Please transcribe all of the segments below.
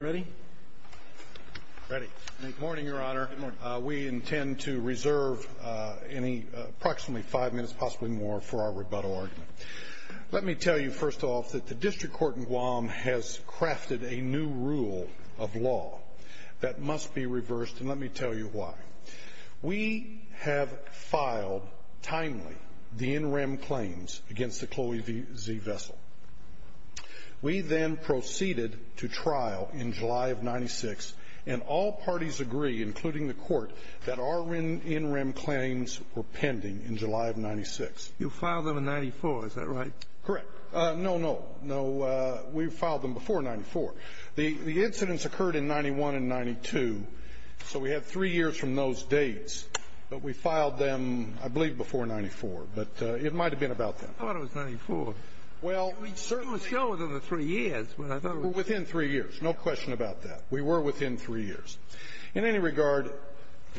Ready? Ready. Good morning, Your Honor. We intend to reserve any approximately five minutes, possibly more, for our rebuttal argument. Let me tell you, first off, that the District Court in Guam has crafted a new rule of law that must be reversed, and let me tell you why. We have filed timely the in-rem claims against the Chloe Z Vessel. We then proceeded to trial in July of 1996, and all parties agree, including the Court, that our in-rem claims were pending in July of 1996. You filed them in 1994, is that right? Correct. No, no, no. We filed them before 94. The incidents occurred in 91 and 92, so we have three years from those dates. But we filed them, I believe, before 94, but it might have been about then. I thought it was 94. Well, we certainly — It was so within the three years, but I thought it was — Within three years, no question about that. We were within three years. In any regard,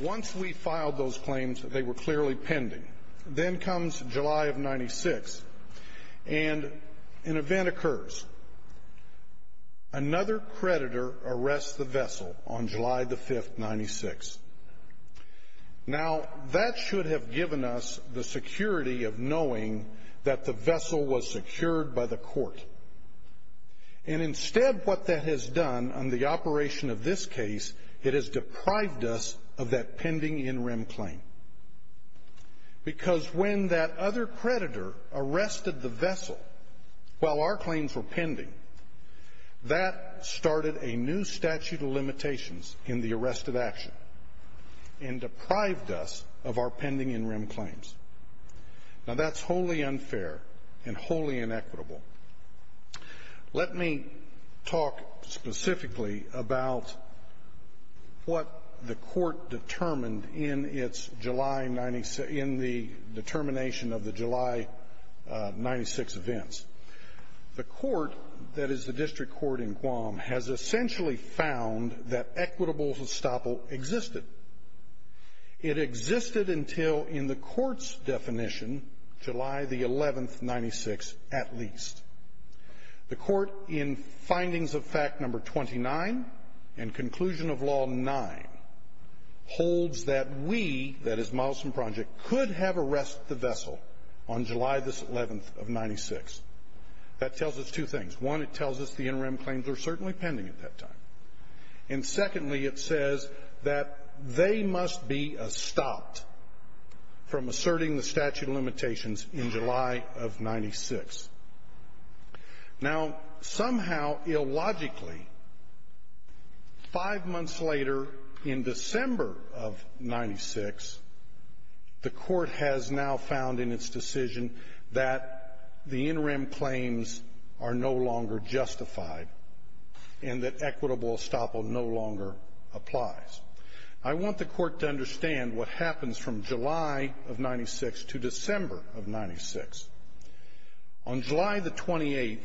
once we filed those claims, they were clearly pending. Then comes July of 96, and an event occurs. Another creditor arrests the Vessel on July the 5th, 96. Now, that should have given us the security of knowing that the Vessel was secured by the Court. And instead, what that has done on the operation of this case, it has deprived us of that pending in-rem claim. Because when that other creditor arrested the Vessel while our claims were pending, that started a new statute of limitations in the arrest of action and deprived us of our pending in-rem claims. Now, that's wholly unfair and wholly inequitable. Let me talk specifically about what the Court determined in the determination of the July 96 events. The Court, that is the district court in Guam, has essentially found that equitable estoppel existed. It existed until, in the Court's definition, July the 11th, 96, at least. The Court, in Findings of Fact No. 29 and Conclusion of Law 9, holds that we, that is, Milestone Project, could have arrested the Vessel on July the 11th of 96. That tells us two things. One, it tells us the in-rem claims were certainly pending at that time. And secondly, it says that they must be estopped from asserting the statute of limitations in July of 96. Now, somehow, illogically, five months later, in December of 96, the Court has now found in its decision that the in-rem claims are no longer justified and that equitable estoppel no longer applies. I want the Court to understand what happens from July of 96 to December of 96. On July the 28th,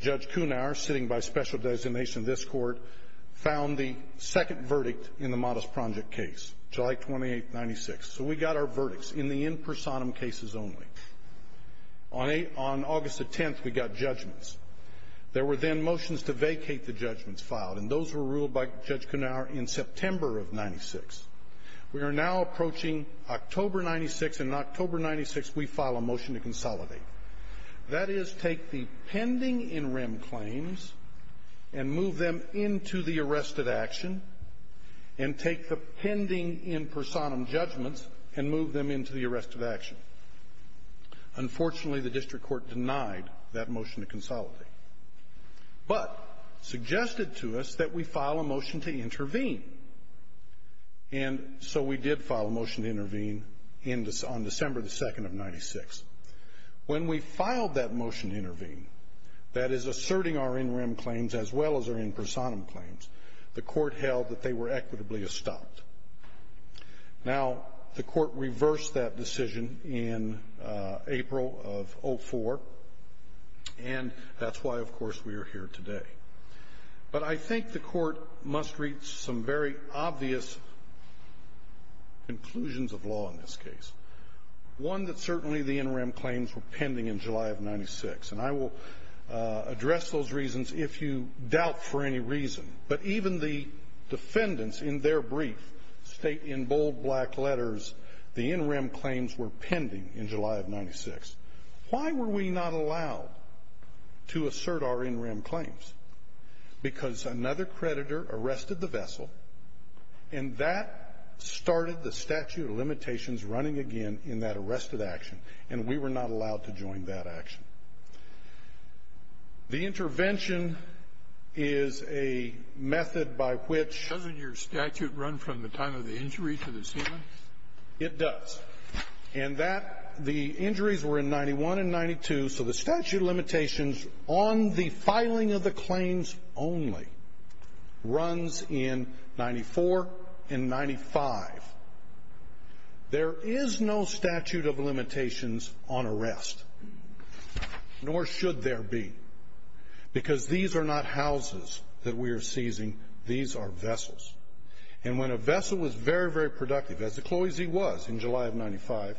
Judge Cunar, sitting by special designation in this Court, found the second verdict in the Modest Project case, July 28th, 96. So we got our verdicts in the in personam cases only. On August the 10th, we got judgments. There were then motions to vacate the judgments filed, and those were ruled by Judge Cunar in September of 96. We are now approaching October 96, and in October 96, we file a motion to consolidate. That is, take the pending in-rem claims and move them into the arrested action, and take the pending in personam judgments and move them into the arrested action. Unfortunately, the District Court denied that motion to consolidate, but suggested to us that we file a motion to intervene. And so we did file a motion to intervene on December the 2nd of 96. When we filed that motion to intervene, that is, asserting our in-rem claims as well as our in personam claims, the Court held that they were equitably estopped. Now, the Court reversed that decision in April of 04, and that's why, of course, we are here today. But I think the Court must reach some very obvious conclusions of law in this case, one that certainly the in-rem claims were pending in July of 96. And I will address those reasons if you doubt for any reason. But even the defendants in their brief state in bold black letters, the in-rem claims were pending in July of 96. Why were we not allowed to assert our in-rem claims? Because another creditor arrested the vessel, and that started the statute of limitations running again in that arrested action, and we were not allowed to join that action. The intervention is a method by which — Doesn't your statute run from the time of the injury to the sealant? It does. And that — the injuries were in 91 and 92, so the statute of limitations on the filing of the claims only runs in 94 and 95. There is no statute of limitations on arrest. Nor should there be, because these are not houses that we are seizing. These are vessels. And when a vessel was very, very productive, as the Cloisy was in July of 95,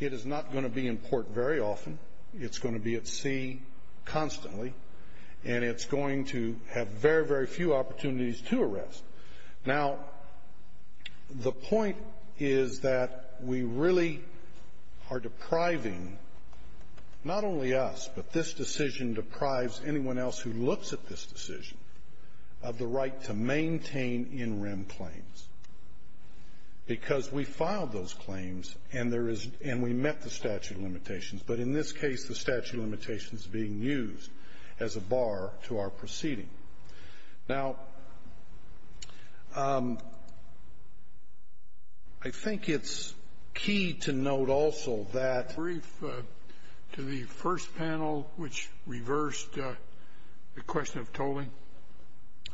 it is not going to be in port very often. It's going to be at sea constantly, and it's going to have very, very few opportunities to arrest. Now, the point is that we really are depriving not only us, but this decision deprives anyone else who looks at this decision of the right to maintain in-rem claims, because we filed those claims, and there is — and we met the statute of limitations. But in this case, the statute of limitations is being used as a bar to our proceeding. Now, I think it's key to note also that — Did you brief to the first panel which reversed the question of tolling?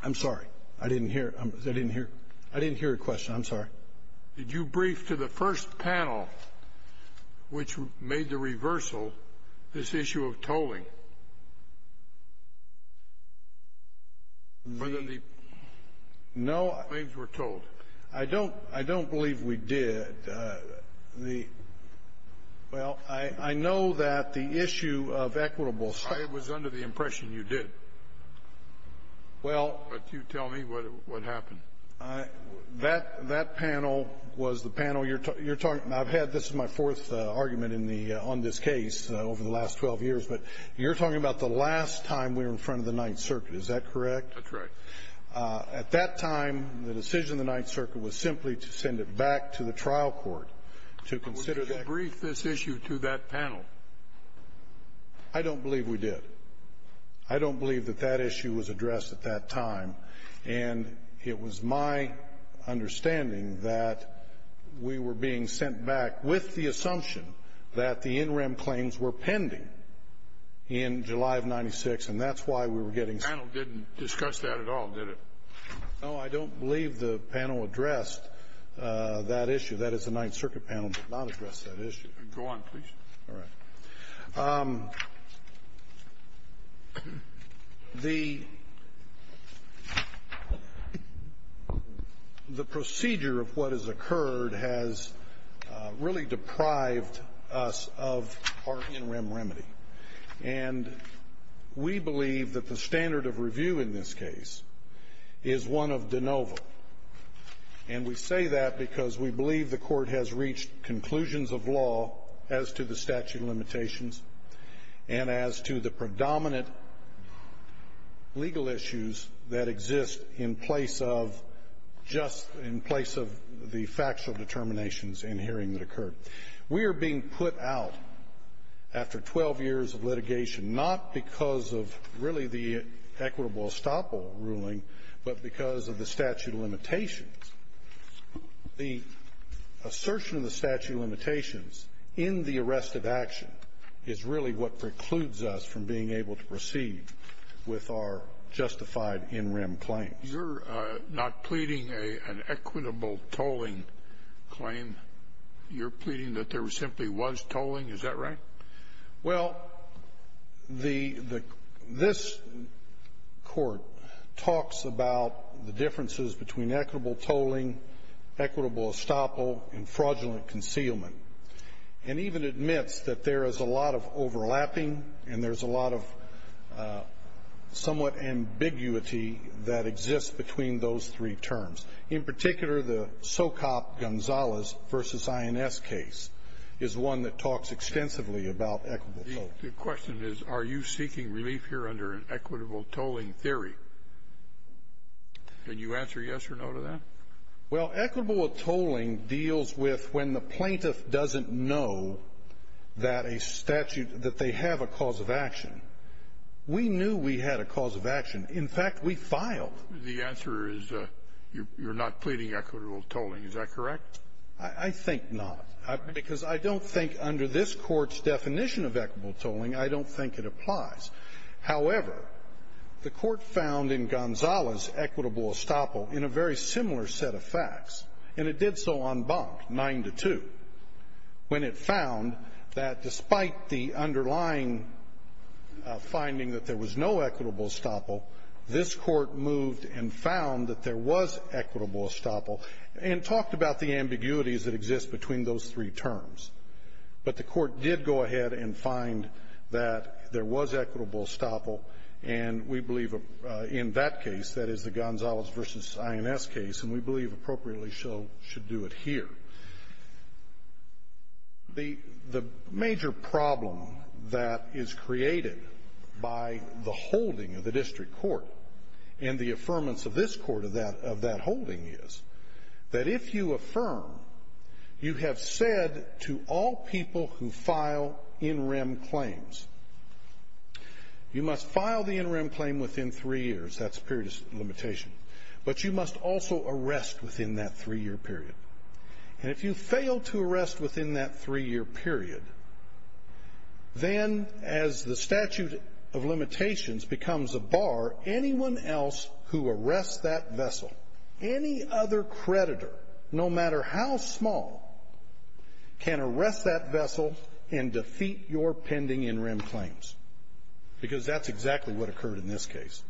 I'm sorry. I didn't hear. I didn't hear. I didn't hear your question. I'm sorry. Did you brief to the first panel which made the reversal this issue of tolling? No. Claims were tolled. I don't — I don't believe we did. The — well, I know that the issue of equitable — It was under the impression you did. Well — But you tell me what happened. That — that panel was the panel you're — you're talking — I've had — this is my fourth argument in the — on this case over the last 12 years. But you're talking about the last time we were in front of the Ninth Circuit. Is that correct? That's right. At that time, the decision of the Ninth Circuit was simply to send it back to the trial court to consider the — But we didn't brief this issue to that panel. I don't believe we did. I don't believe that that issue was addressed at that time. And it was my understanding that we were being sent back with the assumption that the interim claims were pending in July of 96, and that's why we were getting — The panel didn't discuss that at all, did it? No, I don't believe the panel addressed that issue. That is, the Ninth Circuit panel did not address that issue. Go on, please. All right. The procedure of what has occurred has really deprived us of our interim remedy. And we believe that the standard of review in this case is one of de novo. And we say that because we believe the court has reached conclusions of law as to the statute of limitations and as to the predominant legal issues that exist in place of just — in place of the factual determinations in hearing that occurred. We are being put out after 12 years of litigation not because of really the equitable estoppel ruling, but because of the statute of limitations. The assertion of the statute of limitations in the arrest of action is really what precludes us from being able to proceed with our justified interim claims. You're not pleading an equitable tolling claim. You're pleading that there simply was tolling. Is that right? Well, the — this Court talks about the differences between equitable tolling, equitable estoppel, and fraudulent concealment, and even admits that there is a lot of overlapping and there's a lot of somewhat ambiguity that exists between those three terms. In particular, the SOCOP-Gonzalez v. INS case is one that talks extensively about equitable tolling. The question is, are you seeking relief here under an equitable tolling theory? Can you answer yes or no to that? Well, equitable tolling deals with when the plaintiff doesn't know that a statute — that they have a cause of action. We knew we had a cause of action. In fact, we filed. The answer is you're not pleading equitable tolling. Is that correct? I think not. Because I don't think under this Court's definition of equitable tolling, I don't think it applies. However, the Court found in Gonzalez equitable estoppel in a very similar set of facts, and it did so en banc, 9-2, when it found that despite the underlying finding that there was no equitable estoppel, this Court moved and found that there was equitable estoppel and talked about the ambiguities that exist between those three terms. But the Court did go ahead and find that there was equitable estoppel, and we believe in that case, that is, the Gonzalez v. INS case, and we believe appropriately so should do it here. The major problem that is created by the holding of the district court and the affirmance of this court of that holding is that if you affirm, you have said to all people who file in rem claims, you must file the in rem claim within three years. That's a period of limitation. But you must also arrest within that three-year period. And if you fail to arrest within that three-year period, then as the statute of limitations becomes a bar, anyone else who arrests that vessel, any other creditor, no matter how small, can arrest that vessel and defeat your pending in rem claims, because that's exactly what occurred in this case.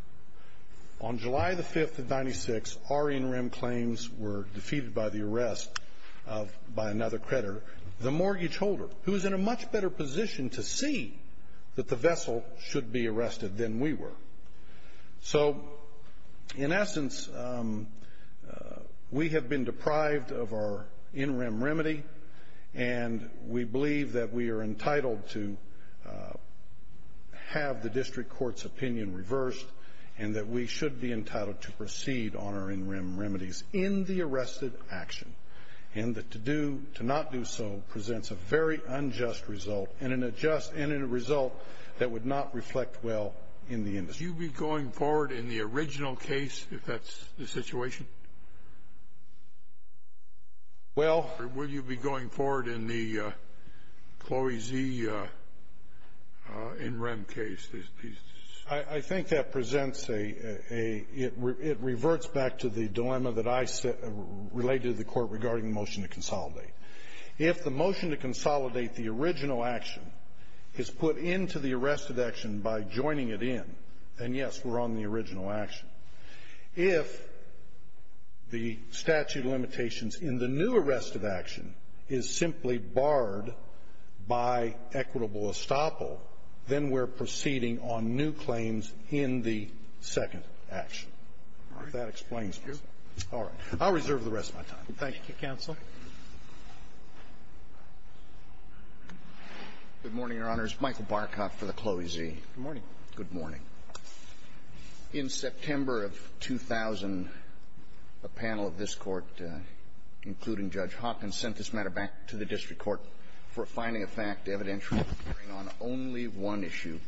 On July the 5th of 1996, our in rem claims were defeated by the arrest by another creditor, the mortgage holder, who was in a much better position to see that the vessel should be arrested than we were. So, in essence, we have been deprived of our in rem remedy, and we believe that we should be entitled to proceed on our in rem remedies in the arrested action, and that to do, to not do so, presents a very unjust result, and a result that would not reflect well in the industry. Would you be going forward in the original case, if that's the situation? Well. Or would you be going forward in the Chloe Z. in rem case? I think that presents a – it reverts back to the dilemma that I related to the Court regarding the motion to consolidate. If the motion to consolidate the original action is put into the arrested action by joining it in, then, yes, we're on the original action. If the statute of limitations in the new arrested action is simply barred by equitable estoppel, then we're proceeding on new claims in the second action. If that explains it. All right. I'll reserve the rest of my time. Thank you, counsel. Good morning, Your Honors. Michael Barkoff for the Chloe Z. Good morning. Good morning. In September of 2000, a panel of this Court, including Judge Hopkins, sent this matter back to the district court for finding a fact evidential on only one issue.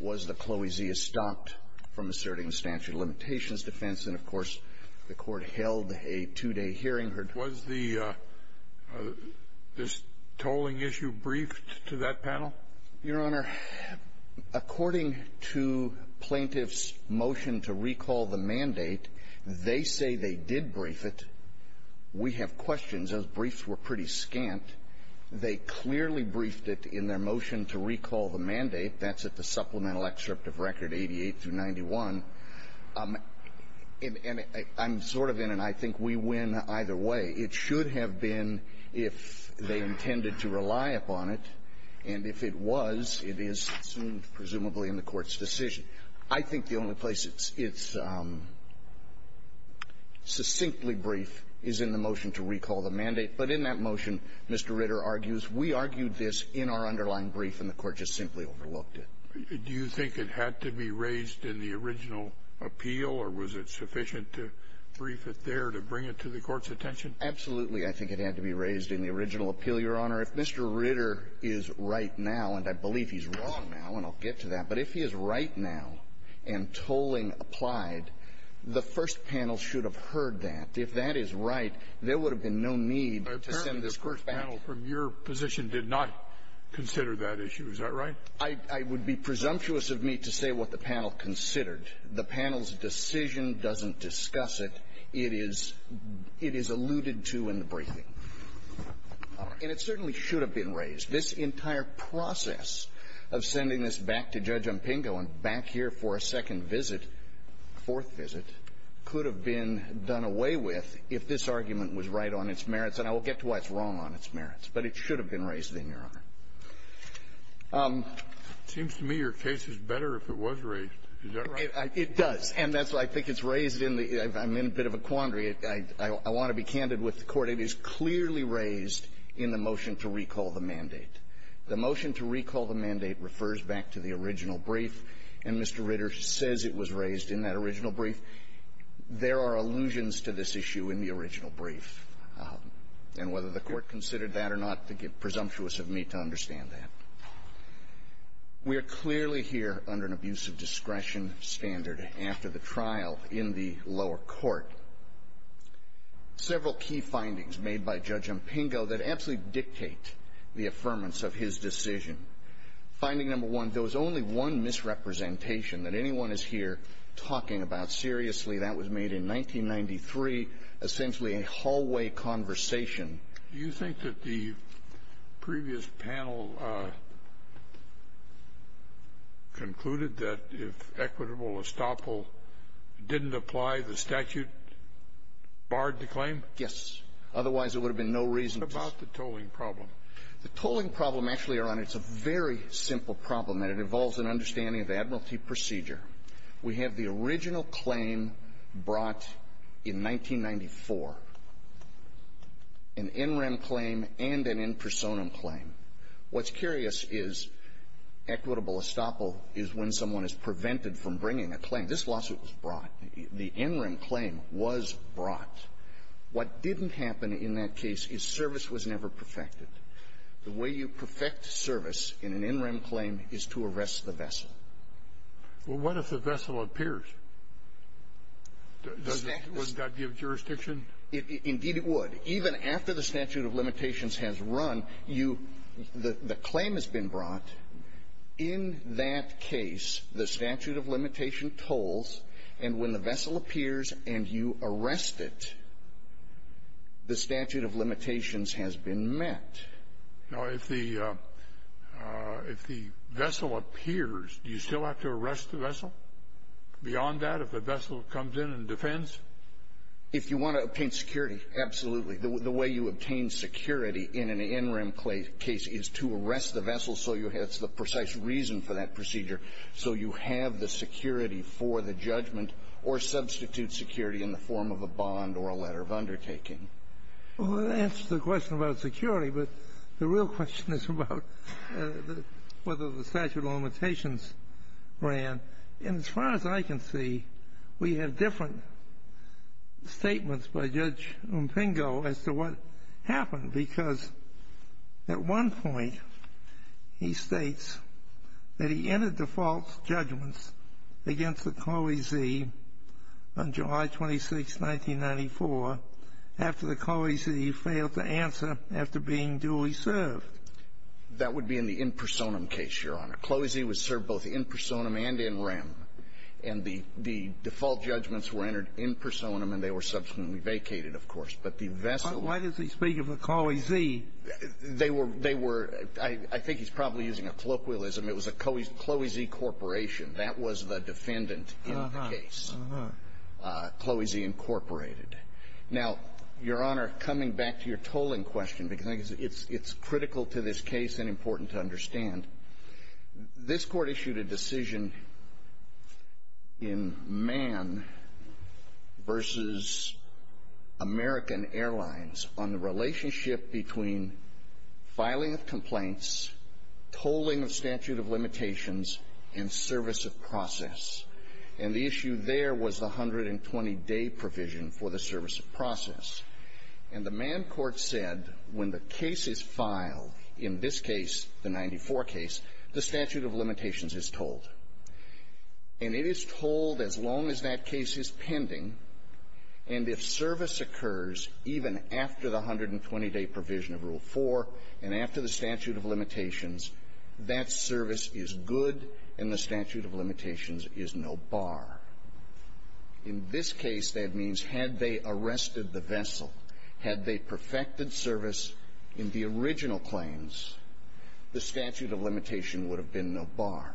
Was the Chloe Z. estopped from asserting the statute of limitations defense? And, of course, the Court held a two-day hearing. Was the – this tolling issue briefed to that panel? Your Honor, according to plaintiff's motion to recall the mandate, they say they did brief it. We have questions. Those briefs were pretty scant. They clearly briefed it in their motion to recall the mandate. That's at the supplemental excerpt of Record 88 through 91. And I'm sort of in an I think we win either way. It should have been if they intended to rely upon it. And if it was, it is soon presumably in the Court's decision. I think the only place it's – it's succinctly brief is in the motion to recall the mandate. But in that motion, Mr. Ritter argues, we argued this in our underlying brief, and the Court just simply overlooked it. Do you think it had to be raised in the original appeal? Or was it sufficient to brief it there to bring it to the Court's attention? Absolutely. I think it had to be raised in the original appeal, Your Honor. If Mr. Ritter is right now, and I believe he's wrong now, and I'll get to that, but if he is right now and tolling applied, the first panel should have heard that. If that is right, there would have been no need to send this Court back. Apparently, the first panel from your position did not consider that issue. Is that right? I would be presumptuous of me to say what the panel considered. The panel's decision doesn't discuss it. It is – it is alluded to in the briefing. And it certainly should have been raised. This entire process of sending this back to Judge Umpingo and back here for a second visit, a fourth visit, could have been done away with if this argument was right on its merits. And I will get to why it's wrong on its merits. But it should have been raised then, Your Honor. It seems to me your case is better if it was raised. Is that right? It does. And that's why I think it's raised in the – I'm in a bit of a quandary. I want to be candid with the Court. But it is clearly raised in the motion to recall the mandate. The motion to recall the mandate refers back to the original brief, and Mr. Ritter says it was raised in that original brief. There are allusions to this issue in the original brief. And whether the Court considered that or not, presumptuous of me to understand that. We are clearly here under an abuse of discretion standard after the trial in the lower court. Several key findings made by Judge Impingo that absolutely dictate the affirmance of his decision. Finding number one, there was only one misrepresentation that anyone is here talking about. Seriously, that was made in 1993, essentially a hallway conversation. Do you think that the previous panel concluded that if equitable estoppel didn't apply, the statute barred the claim? Yes. Otherwise, there would have been no reason to – What about the tolling problem? The tolling problem, Your Honor, it's a very simple problem. And it involves an understanding of the admiralty procedure. We have the original claim brought in 1994, an in rem claim and an in personam claim. a claim. This lawsuit was brought. The in rem claim was brought. What didn't happen in that case is service was never perfected. The way you perfect service in an in rem claim is to arrest the vessel. Well, what if the vessel appears? Doesn't that give jurisdiction? Indeed it would. Even after the statute of limitations has run, you – the claim has been brought. In that case, the statute of limitation tolls. And when the vessel appears and you arrest it, the statute of limitations has been met. Now, if the vessel appears, do you still have to arrest the vessel? Beyond that, if the vessel comes in and defends? If you want to obtain security, absolutely. The way you obtain security in an in rem case is to arrest the vessel so you have the precise reason for that procedure so you have the security for the judgment or substitute security in the form of a bond or a letter of undertaking. Well, that answers the question about security. But the real question is about whether the statute of limitations ran. And as far as I can see, we have different statements by Judge Umpingo as to what happened, because at one point he states that he entered the false judgments against the cloisee on July 26, 1994, after the cloisee failed to answer after being duly served. That would be in the in personam case, Your Honor. Cloisee was served both in personam and in rem. And the default judgments were entered in personam, and they were subsequently vacated, of course. But the vessel was used. Why does he speak of a cloisee? They were they were I think he's probably using a colloquialism. It was a cloisee corporation. That was the defendant in the case. Uh-huh. Cloisee incorporated. Now, Your Honor, coming back to your tolling question, because I think it's critical to this case and important to understand, this Court issued a decision in Mann versus American Airlines on the relationship between filing of complaints, tolling of statute of limitations, and service of process. And the issue there was the 120-day provision for the service of process. And the Mann court said when the case is filed, in this case, the 94 case, the statute of limitations is tolled. And it is tolled as long as that case is pending, and if service occurs even after the 120-day provision of Rule 4 and after the statute of limitations, that service is good and the statute of limitations is no bar. In this case, that means had they arrested the vessel, had they perfected service in the original claims, the statute of limitation would have been no bar.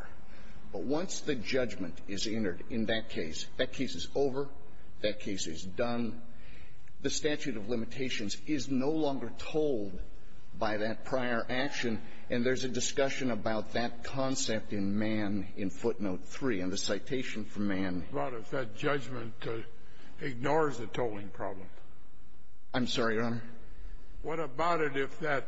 But once the judgment is entered in that case, that case is over, that case is done, the statute of limitations is no longer tolled by that prior action, and there's a discussion about that concept in Mann in footnote 3, and the citation from Mann. Scalia. What about if that judgment ignores the tolling problem? Long, Jr. I'm sorry, Your Honor. Scalia. What about it if that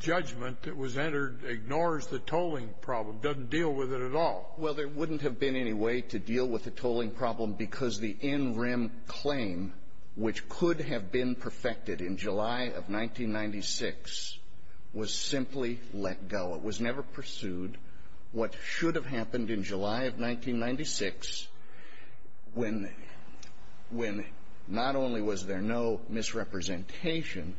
judgment that was entered ignores the tolling problem, doesn't deal with it at all? Long, Jr. Well, there wouldn't have been any way to deal with the tolling problem because the in-rim claim, which could have been perfected in July of 1996, was simply let go. It was never pursued. What should have happened in July of 1996, when not only was there no misrepresentation,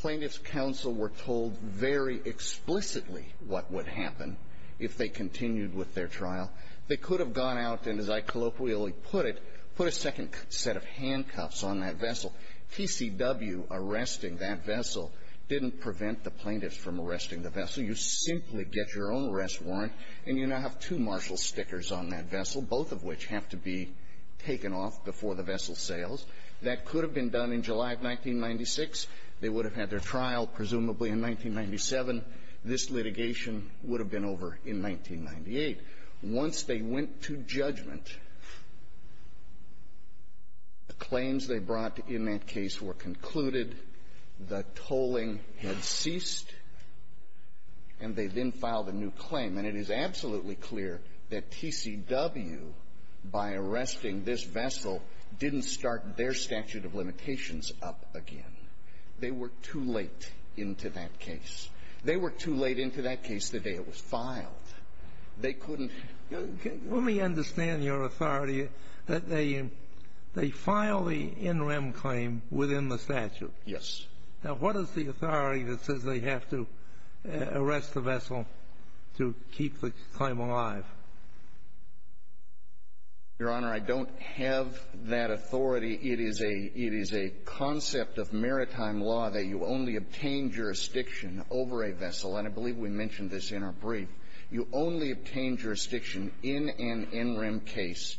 plaintiff's counsel were told very explicitly what would happen if they continued with their trial. They could have gone out and, as I colloquially put it, put a second set of handcuffs on that vessel. TCW arresting that vessel didn't prevent the plaintiffs from arresting the vessel. You simply get your own arrest warrant, and you now have two marshal stickers on that vessel, both of which have to be taken off before the vessel sails. That could have been done in July of 1996. They would have had their trial, presumably in 1997. This litigation would have been over in 1998. Once they went to judgment, the claims they brought in that case were concluded. The tolling had ceased, and they then filed a new claim. And it is absolutely clear that TCW, by arresting this vessel, didn't start their statute of limitations up again. They were too late into that case. They were too late into that case the day it was filed. They couldn't — Let me understand your authority that they file the in rem claim within the statute. Yes. Now, what is the authority that says they have to arrest the vessel to keep the claim alive? Your Honor, I don't have that authority. It is a — it is a concept of maritime law that you only obtain jurisdiction over a vessel. And I believe we mentioned this in our brief. You only obtain jurisdiction in an in rem case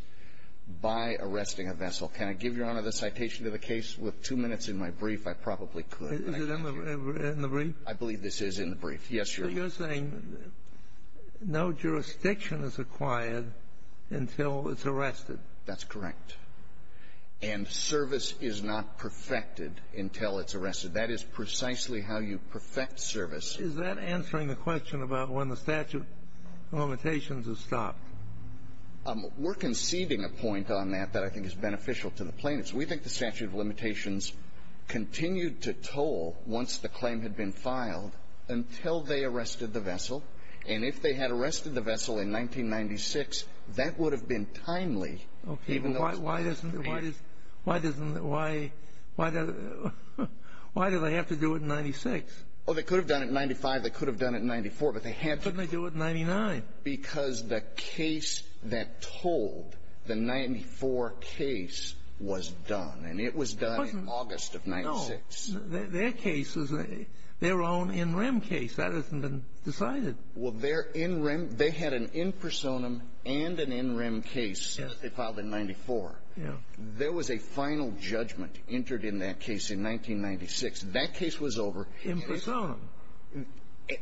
by arresting a vessel. Can I give, Your Honor, the citation of the case with two minutes in my brief? I probably could. Is it in the brief? I believe this is in the brief. Yes, Your Honor. So you're saying no jurisdiction is acquired until it's arrested. That's correct. And service is not perfected until it's arrested. That is precisely how you perfect service. Is that answering the question about when the statute of limitations is stopped? We're conceding a point on that that I think is beneficial to the plaintiffs. We think the statute of limitations continued to toll once the claim had been filed until they arrested the vessel. And if they had arrested the vessel in 1996, that would have been timely. Okay. Why doesn't — why does — why doesn't — why — why do they have to do it in 96? Well, they could have done it in 95. They could have done it in 94. But they had to. Couldn't they do it in 99? Because the case that tolled the 94 case was done. And it was done in August of 96. No. Their case was their own in rem case. That hasn't been decided. Well, their in rem — they had an in personam and an in rem case that they filed in 94. Yes. There was a final judgment entered in that case in 1996. That case was over. In personam.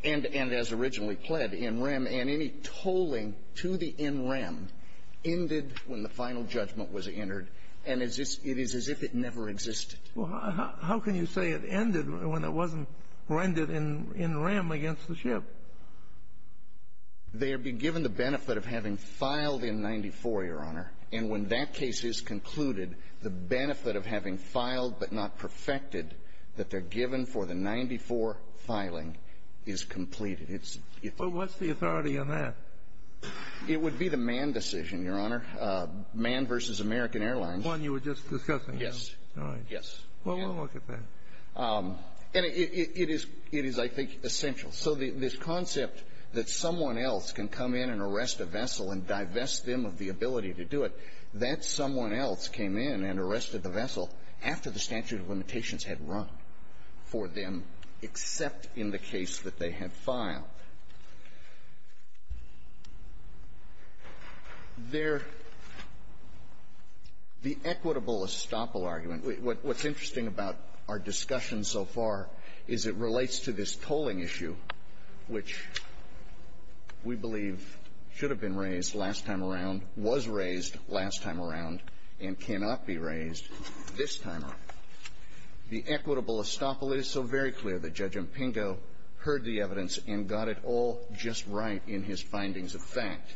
And as originally pled, in rem. And any tolling to the in rem ended when the final judgment was entered. And it is as if it never existed. Well, how can you say it ended when it wasn't rendered in rem against the ship? They would be given the benefit of having filed in 94, Your Honor. And when that case is concluded, the benefit of having filed but not perfected that they're given for the 94 filing is completed. But what's the authority on that? It would be the Mann decision, Your Honor. Mann v. American Airlines. The one you were just discussing. Yes. All right. Yes. Well, we'll look at that. And it is — it is, I think, essential. So this concept that someone else can come in and arrest a vessel and divest them of the ability to do it, that someone else came in and arrested the vessel after the statute of limitations had run for them except in the case that they had filed, their — the equitable estoppel argument, what's interesting about our discussion so far is it relates to this tolling issue, which we believe should have been raised last time around, was raised last time around, and cannot be raised this time around. The equitable estoppel is so very clear that Judge Impingo heard the evidence and got it all just right in his findings of fact.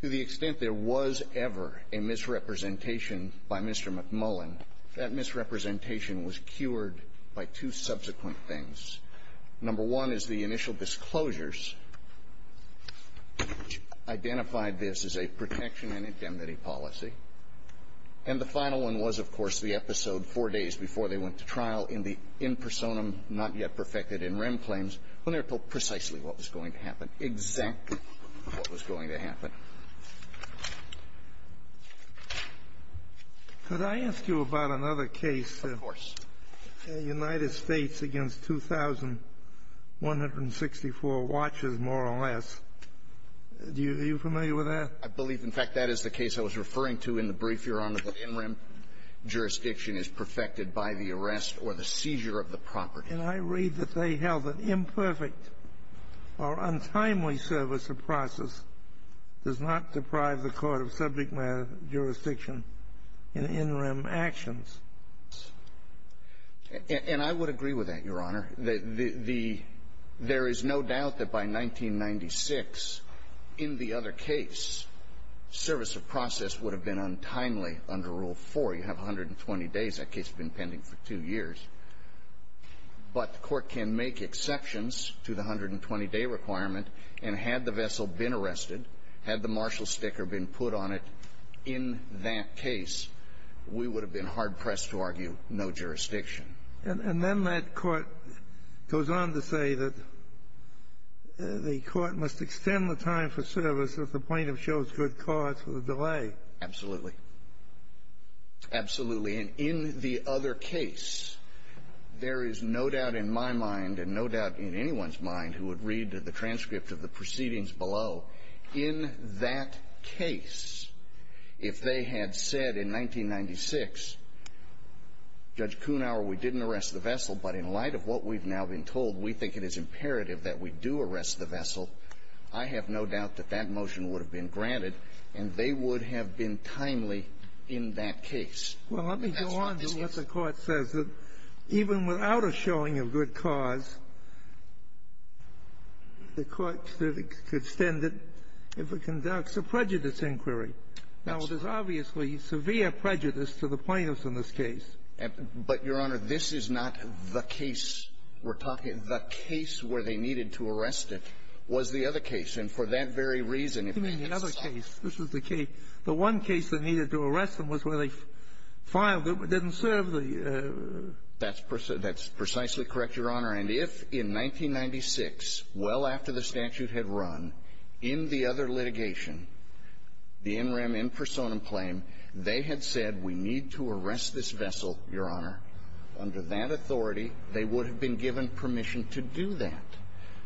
To the extent there was ever a misrepresentation by Mr. McMullen, that misrepresentation was cured by two subsequent things. Number one is the initial disclosures, which identified this as a protection and indemnity policy. And the final one was, of course, the episode four days before they went to trial in the in personam, not yet perfected in rem claims, when they were told precisely what was going to happen, exactly what was going to happen. Could I ask you about another case? Of course. The United States against 2,164 watches, more or less. Are you familiar with that? I believe, in fact, that is the case I was referring to in the brief, Your Honor, that in rem jurisdiction is perfected by the arrest or the seizure of the property. And I read that they held that imperfect or untimely service of process does not deprive the court of subject matter jurisdiction in in rem actions. And I would agree with that, Your Honor. There is no doubt that by 1996, in the other case, service of process would have been untimely under Rule 4. You have 120 days. That case had been pending for two years. But the Court can make exceptions to the 120-day requirement, and had the vessel been arrested, had the marshal sticker been put on it in that case, we would have been hard-pressed to argue no jurisdiction. And then that Court goes on to say that the Court must extend the time for service if the plaintiff shows good cause for the delay. Absolutely. Absolutely. And in the other case, there is no doubt in my mind and no doubt in anyone's mind who would read the transcript of the proceedings below, in that case, if they had said in 1996, Judge Kuhnhauer, we didn't arrest the vessel, but in light of what we've now been told, we think it is imperative that we do arrest the vessel, I have no doubt that that motion would have been granted, and they would have been timely in that case. Well, let me go on to what the Court says, that even without a showing of good cause, the Court could extend it if it conducts a prejudice inquiry. Absolutely. Because there's obviously severe prejudice to the plaintiffs in this case. But, Your Honor, this is not the case we're talking about. The case where they needed to arrest it was the other case. And for that very reason, if they had said the case. You mean the other case. This was the case. The one case that needed to arrest them was where they filed it. It didn't serve the ---- That's precisely correct, Your Honor. And if in 1996, well after the statute had run, in the other litigation, the in rem in personam claim, they had said we need to arrest this vessel, Your Honor, under that authority, they would have been given permission to do that.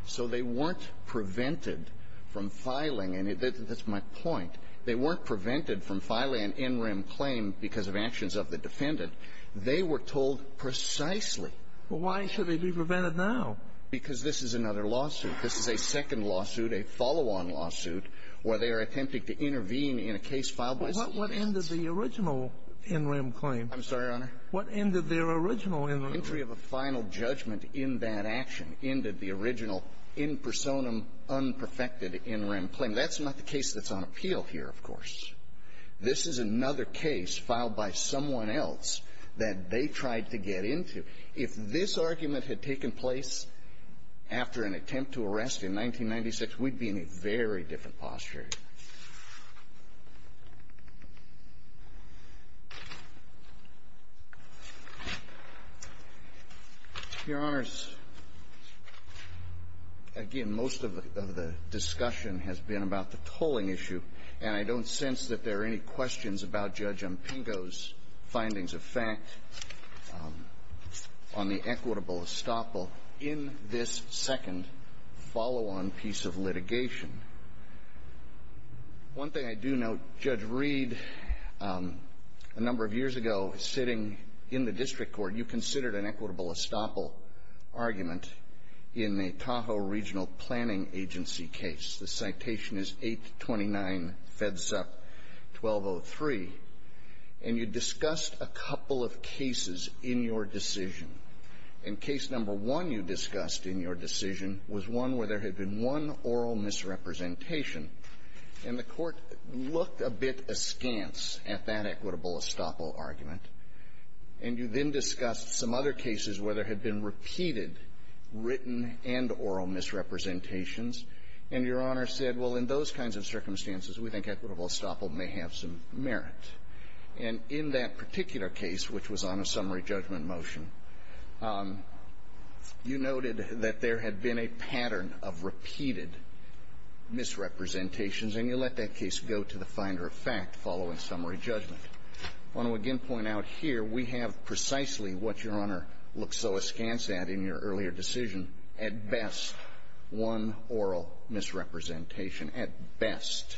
So they weren't prevented from filing, and that's my point, they weren't prevented from filing an in rem claim because of actions of the defendant. They were told precisely. Well, why should they be prevented now? Because this is another lawsuit. This is a second lawsuit, a follow-on lawsuit, where they are attempting to intervene in a case filed by somebody else. Well, what ended the original in rem claim? I'm sorry, Your Honor? What ended their original in rem claim? Entry of a final judgment in that action ended the original in personam unperfected in rem claim. That's not the case that's on appeal here, of course. This is another case filed by someone else that they tried to get into. If this argument had taken place after an attempt to arrest in 1996, we'd be in a very different posture. Your Honors, again, most of the discussion has been about the tolling issue, and I don't sense that there are any questions about Judge Umpingo's findings of fact. On the equitable estoppel, in this second follow-on piece of litigation, one thing I do note, Judge Reed, a number of years ago, sitting in the district court, you considered an equitable estoppel argument in the Tahoe Regional Planning Agency case. This citation is 829 FEDSUP 1203. And you discussed a couple of cases in your decision. And case number one you discussed in your decision was one where there had been one oral misrepresentation, and the Court looked a bit askance at that equitable estoppel argument. And you then discussed some other cases where there had been one oral misrepresentation. And your Honor said, well, in those kinds of circumstances, we think equitable estoppel may have some merit. And in that particular case, which was on a summary judgment motion, you noted that there had been a pattern of repeated misrepresentations, and you let that case go to the finder of fact following summary judgment. I want to again point out here, we have precisely what Your Honor looked so askance at in your earlier decision, at best, one oral misrepresentation, at best,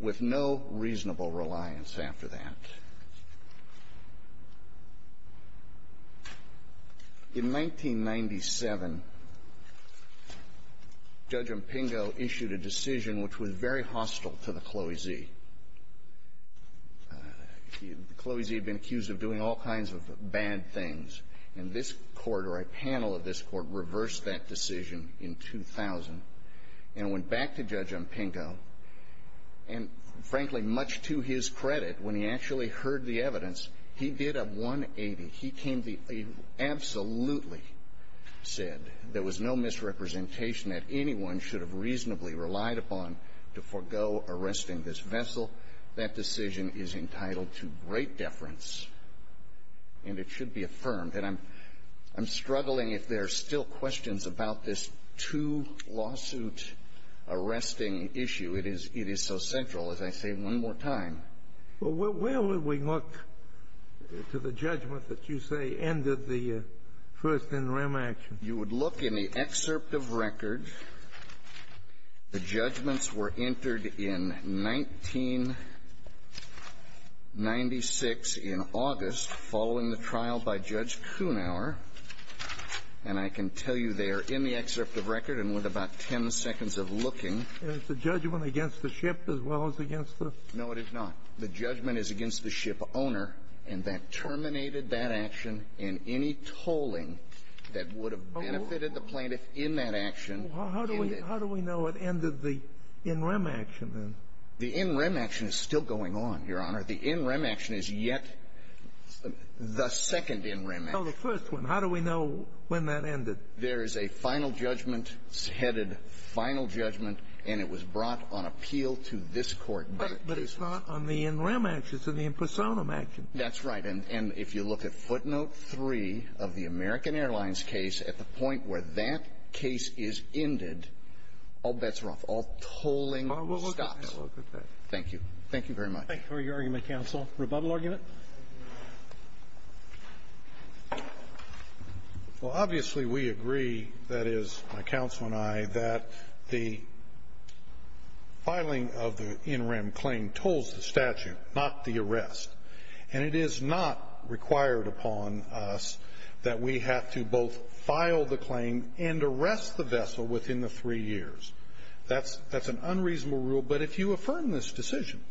with no reasonable reliance after that. In 1997, Judge Impingo issued a decision which was very hostile to the CLOE-Z. The CLOE-Z had been accused of doing all kinds of bad things. And this Court, or a panel of this Court, reversed that decision in 2000 and went back to Judge Impingo. And frankly, much to his credit, when he actually heard the evidence, he did a 180. He came to the end, absolutely said there was no misrepresentation that anyone should have reasonably relied upon to forego arresting this vessel. That decision is entitled to great deference, and it should be affirmed. And I'm struggling if there are still questions about this two-lawsuit arresting issue. It is so central, as I say one more time. Well, where would we look to the judgment that you say ended the first NREM action? You would look in the excerpt of record. The judgments were entered in 1996, in August, following the trial by Judge Kunauer. And I can tell you they are in the excerpt of record and with about ten seconds of looking. Is the judgment against the ship as well as against the ---- No, it is not. The judgment is against the shipowner, and that terminated that action in any tolling that would have benefited the plaintiff in that action. How do we know it ended the NREM action, then? The NREM action is still going on, Your Honor. The NREM action is yet the second NREM action. No, the first one. How do we know when that ended? There is a final judgment, headed final judgment, and it was brought on appeal to this Court. But it's not on the NREM action. It's on the impersonum action. That's right. And if you look at footnote three of the American Airlines case, at the point where that case is ended, all bets are off. All tolling stops. I will look at that. Thank you. Thank you very much. Thank you for your argument, counsel. Rebuttal argument? Well, obviously, we agree, that is, my counsel and I, that the filing of the NREM claim tolls the statute, not the arrest. And it is not required upon us that we have to both file the claim and arrest the vessel within the three years. That's an unreasonable rule. But if you affirm this decision,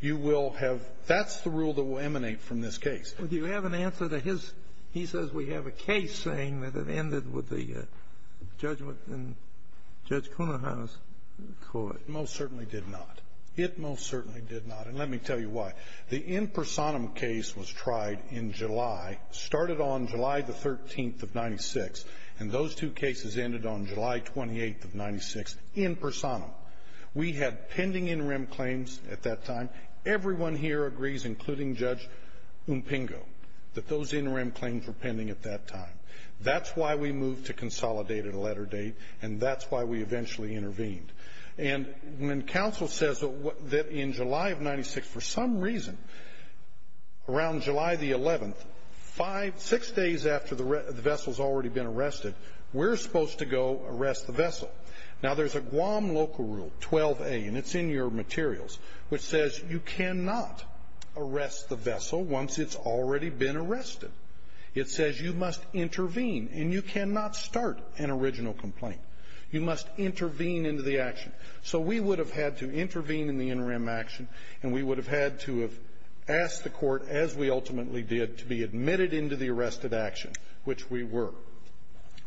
you will have – that's the rule that will emanate from this case. Well, do you have an answer to his – he says we have a case saying that it ended with the judgment in Judge Kunahan's court. It most certainly did not. It most certainly did not. And let me tell you why. The in personam case was tried in July, started on July the 13th of 96, and those two cases ended on July 28th of 96 in personam. We had pending NREM claims at that time. Everyone here agrees, including Judge Umpingo, that those NREM claims were pending at that time. That's why we moved to consolidated letter date, and that's why we eventually intervened. And when counsel says that in July of 96, for some reason, around July the 11th, five – six days after the vessel's already been arrested, we're supposed to go arrest the vessel. Now, there's a Guam local rule, 12A, and it's in your materials, which says you cannot arrest the vessel once it's already been arrested. It says you must intervene, and you cannot start an original complaint. You must intervene into the action. So we would have had to intervene in the NREM action, and we would have had to have asked the court, as we ultimately did, to be admitted into the arrested action, which we were.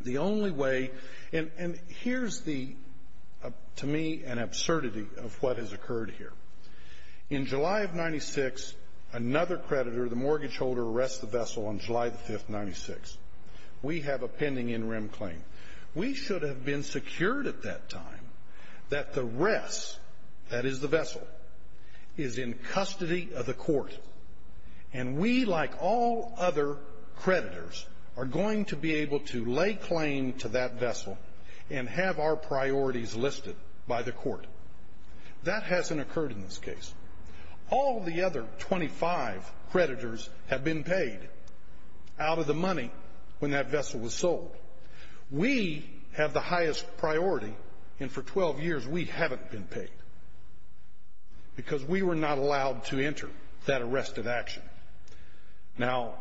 The only way – and here's the – to me, an absurdity of what has occurred here. In July of 96, another creditor, the mortgage holder, arrests the vessel on July the 5th, 96. We have a pending NREM claim. We should have been secured at that time that the rest – that is, the vessel – is in custody of the court. And we, like all other creditors, are going to be able to lay claim to that vessel and have our priorities listed by the court. That hasn't occurred in this case. All the other 25 creditors have been paid out of the money when that vessel was sold. We have the highest priority, and for 12 years we haven't been paid, because we were not allowed to enter that arrested action. Now,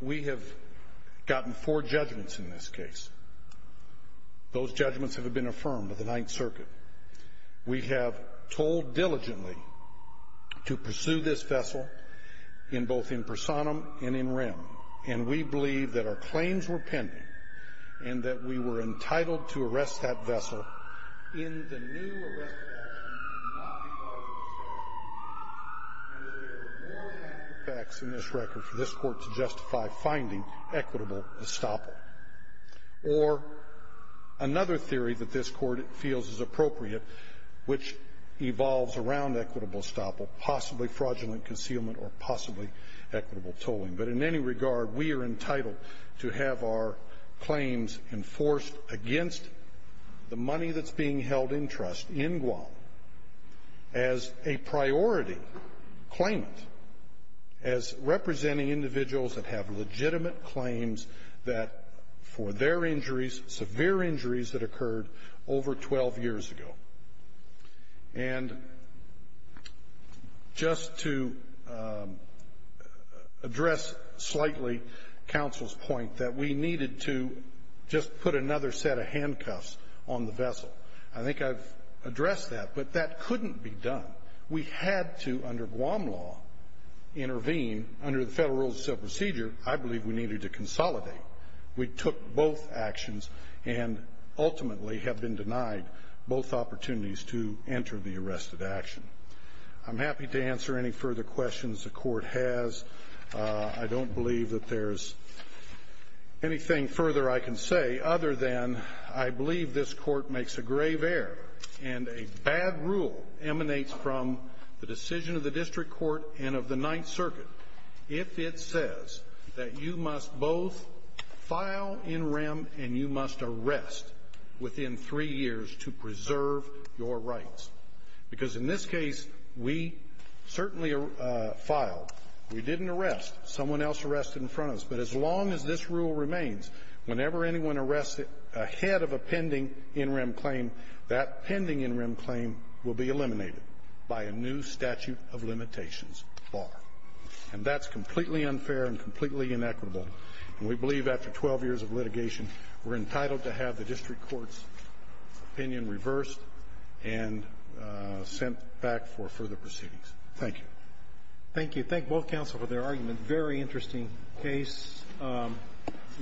we have gotten four judgments in this case. Those judgments have been affirmed by the Ninth Circuit. We have told diligently to pursue this vessel in both in personam and in rem, and we believe that our claims were pending and that we were entitled to arrest that vessel in the new arrest action and not be part of the estoppel. And there are more active facts in this record for this court to justify finding equitable estoppel. Or another theory that this court feels is appropriate, which evolves around equitable estoppel, possibly fraudulent concealment or possibly equitable tolling. But in any regard, we are entitled to have our claims enforced against the money that's being held in trust in Guam as a priority claimant, as representing individuals that have legitimate claims that for their injuries, severe injuries that occurred over 12 years ago. And just to address slightly counsel's point that we needed to just put another set of handcuffs on the vessel. I think I've addressed that, but that couldn't be done. We had to, under Guam law, intervene. Under the federal rules of civil procedure, I believe we needed to consolidate. We took both actions and ultimately have been denied both opportunities to enter the arrested action. I'm happy to answer any further questions the court has. I don't believe that there's anything further I can say other than I believe this court makes a grave error and a bad rule emanates from the decision of the district court and of the Ninth Circuit if it says that you must both file NREM and you must arrest within three years to preserve your rights. Because in this case, we certainly filed. We didn't arrest. Someone else arrested in front of us. But as long as this rule remains, whenever anyone arrests ahead of a pending NREM claim, that pending NREM claim will be eliminated by a new statute of limitations bar. And that's completely unfair and completely inequitable. And we believe after 12 years of litigation, we're entitled to have the district court's opinion reversed and sent back for further proceedings. Thank you. Thank you. Thank both counsel for their argument. Very interesting case. And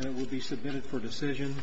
it will be submitted for decision.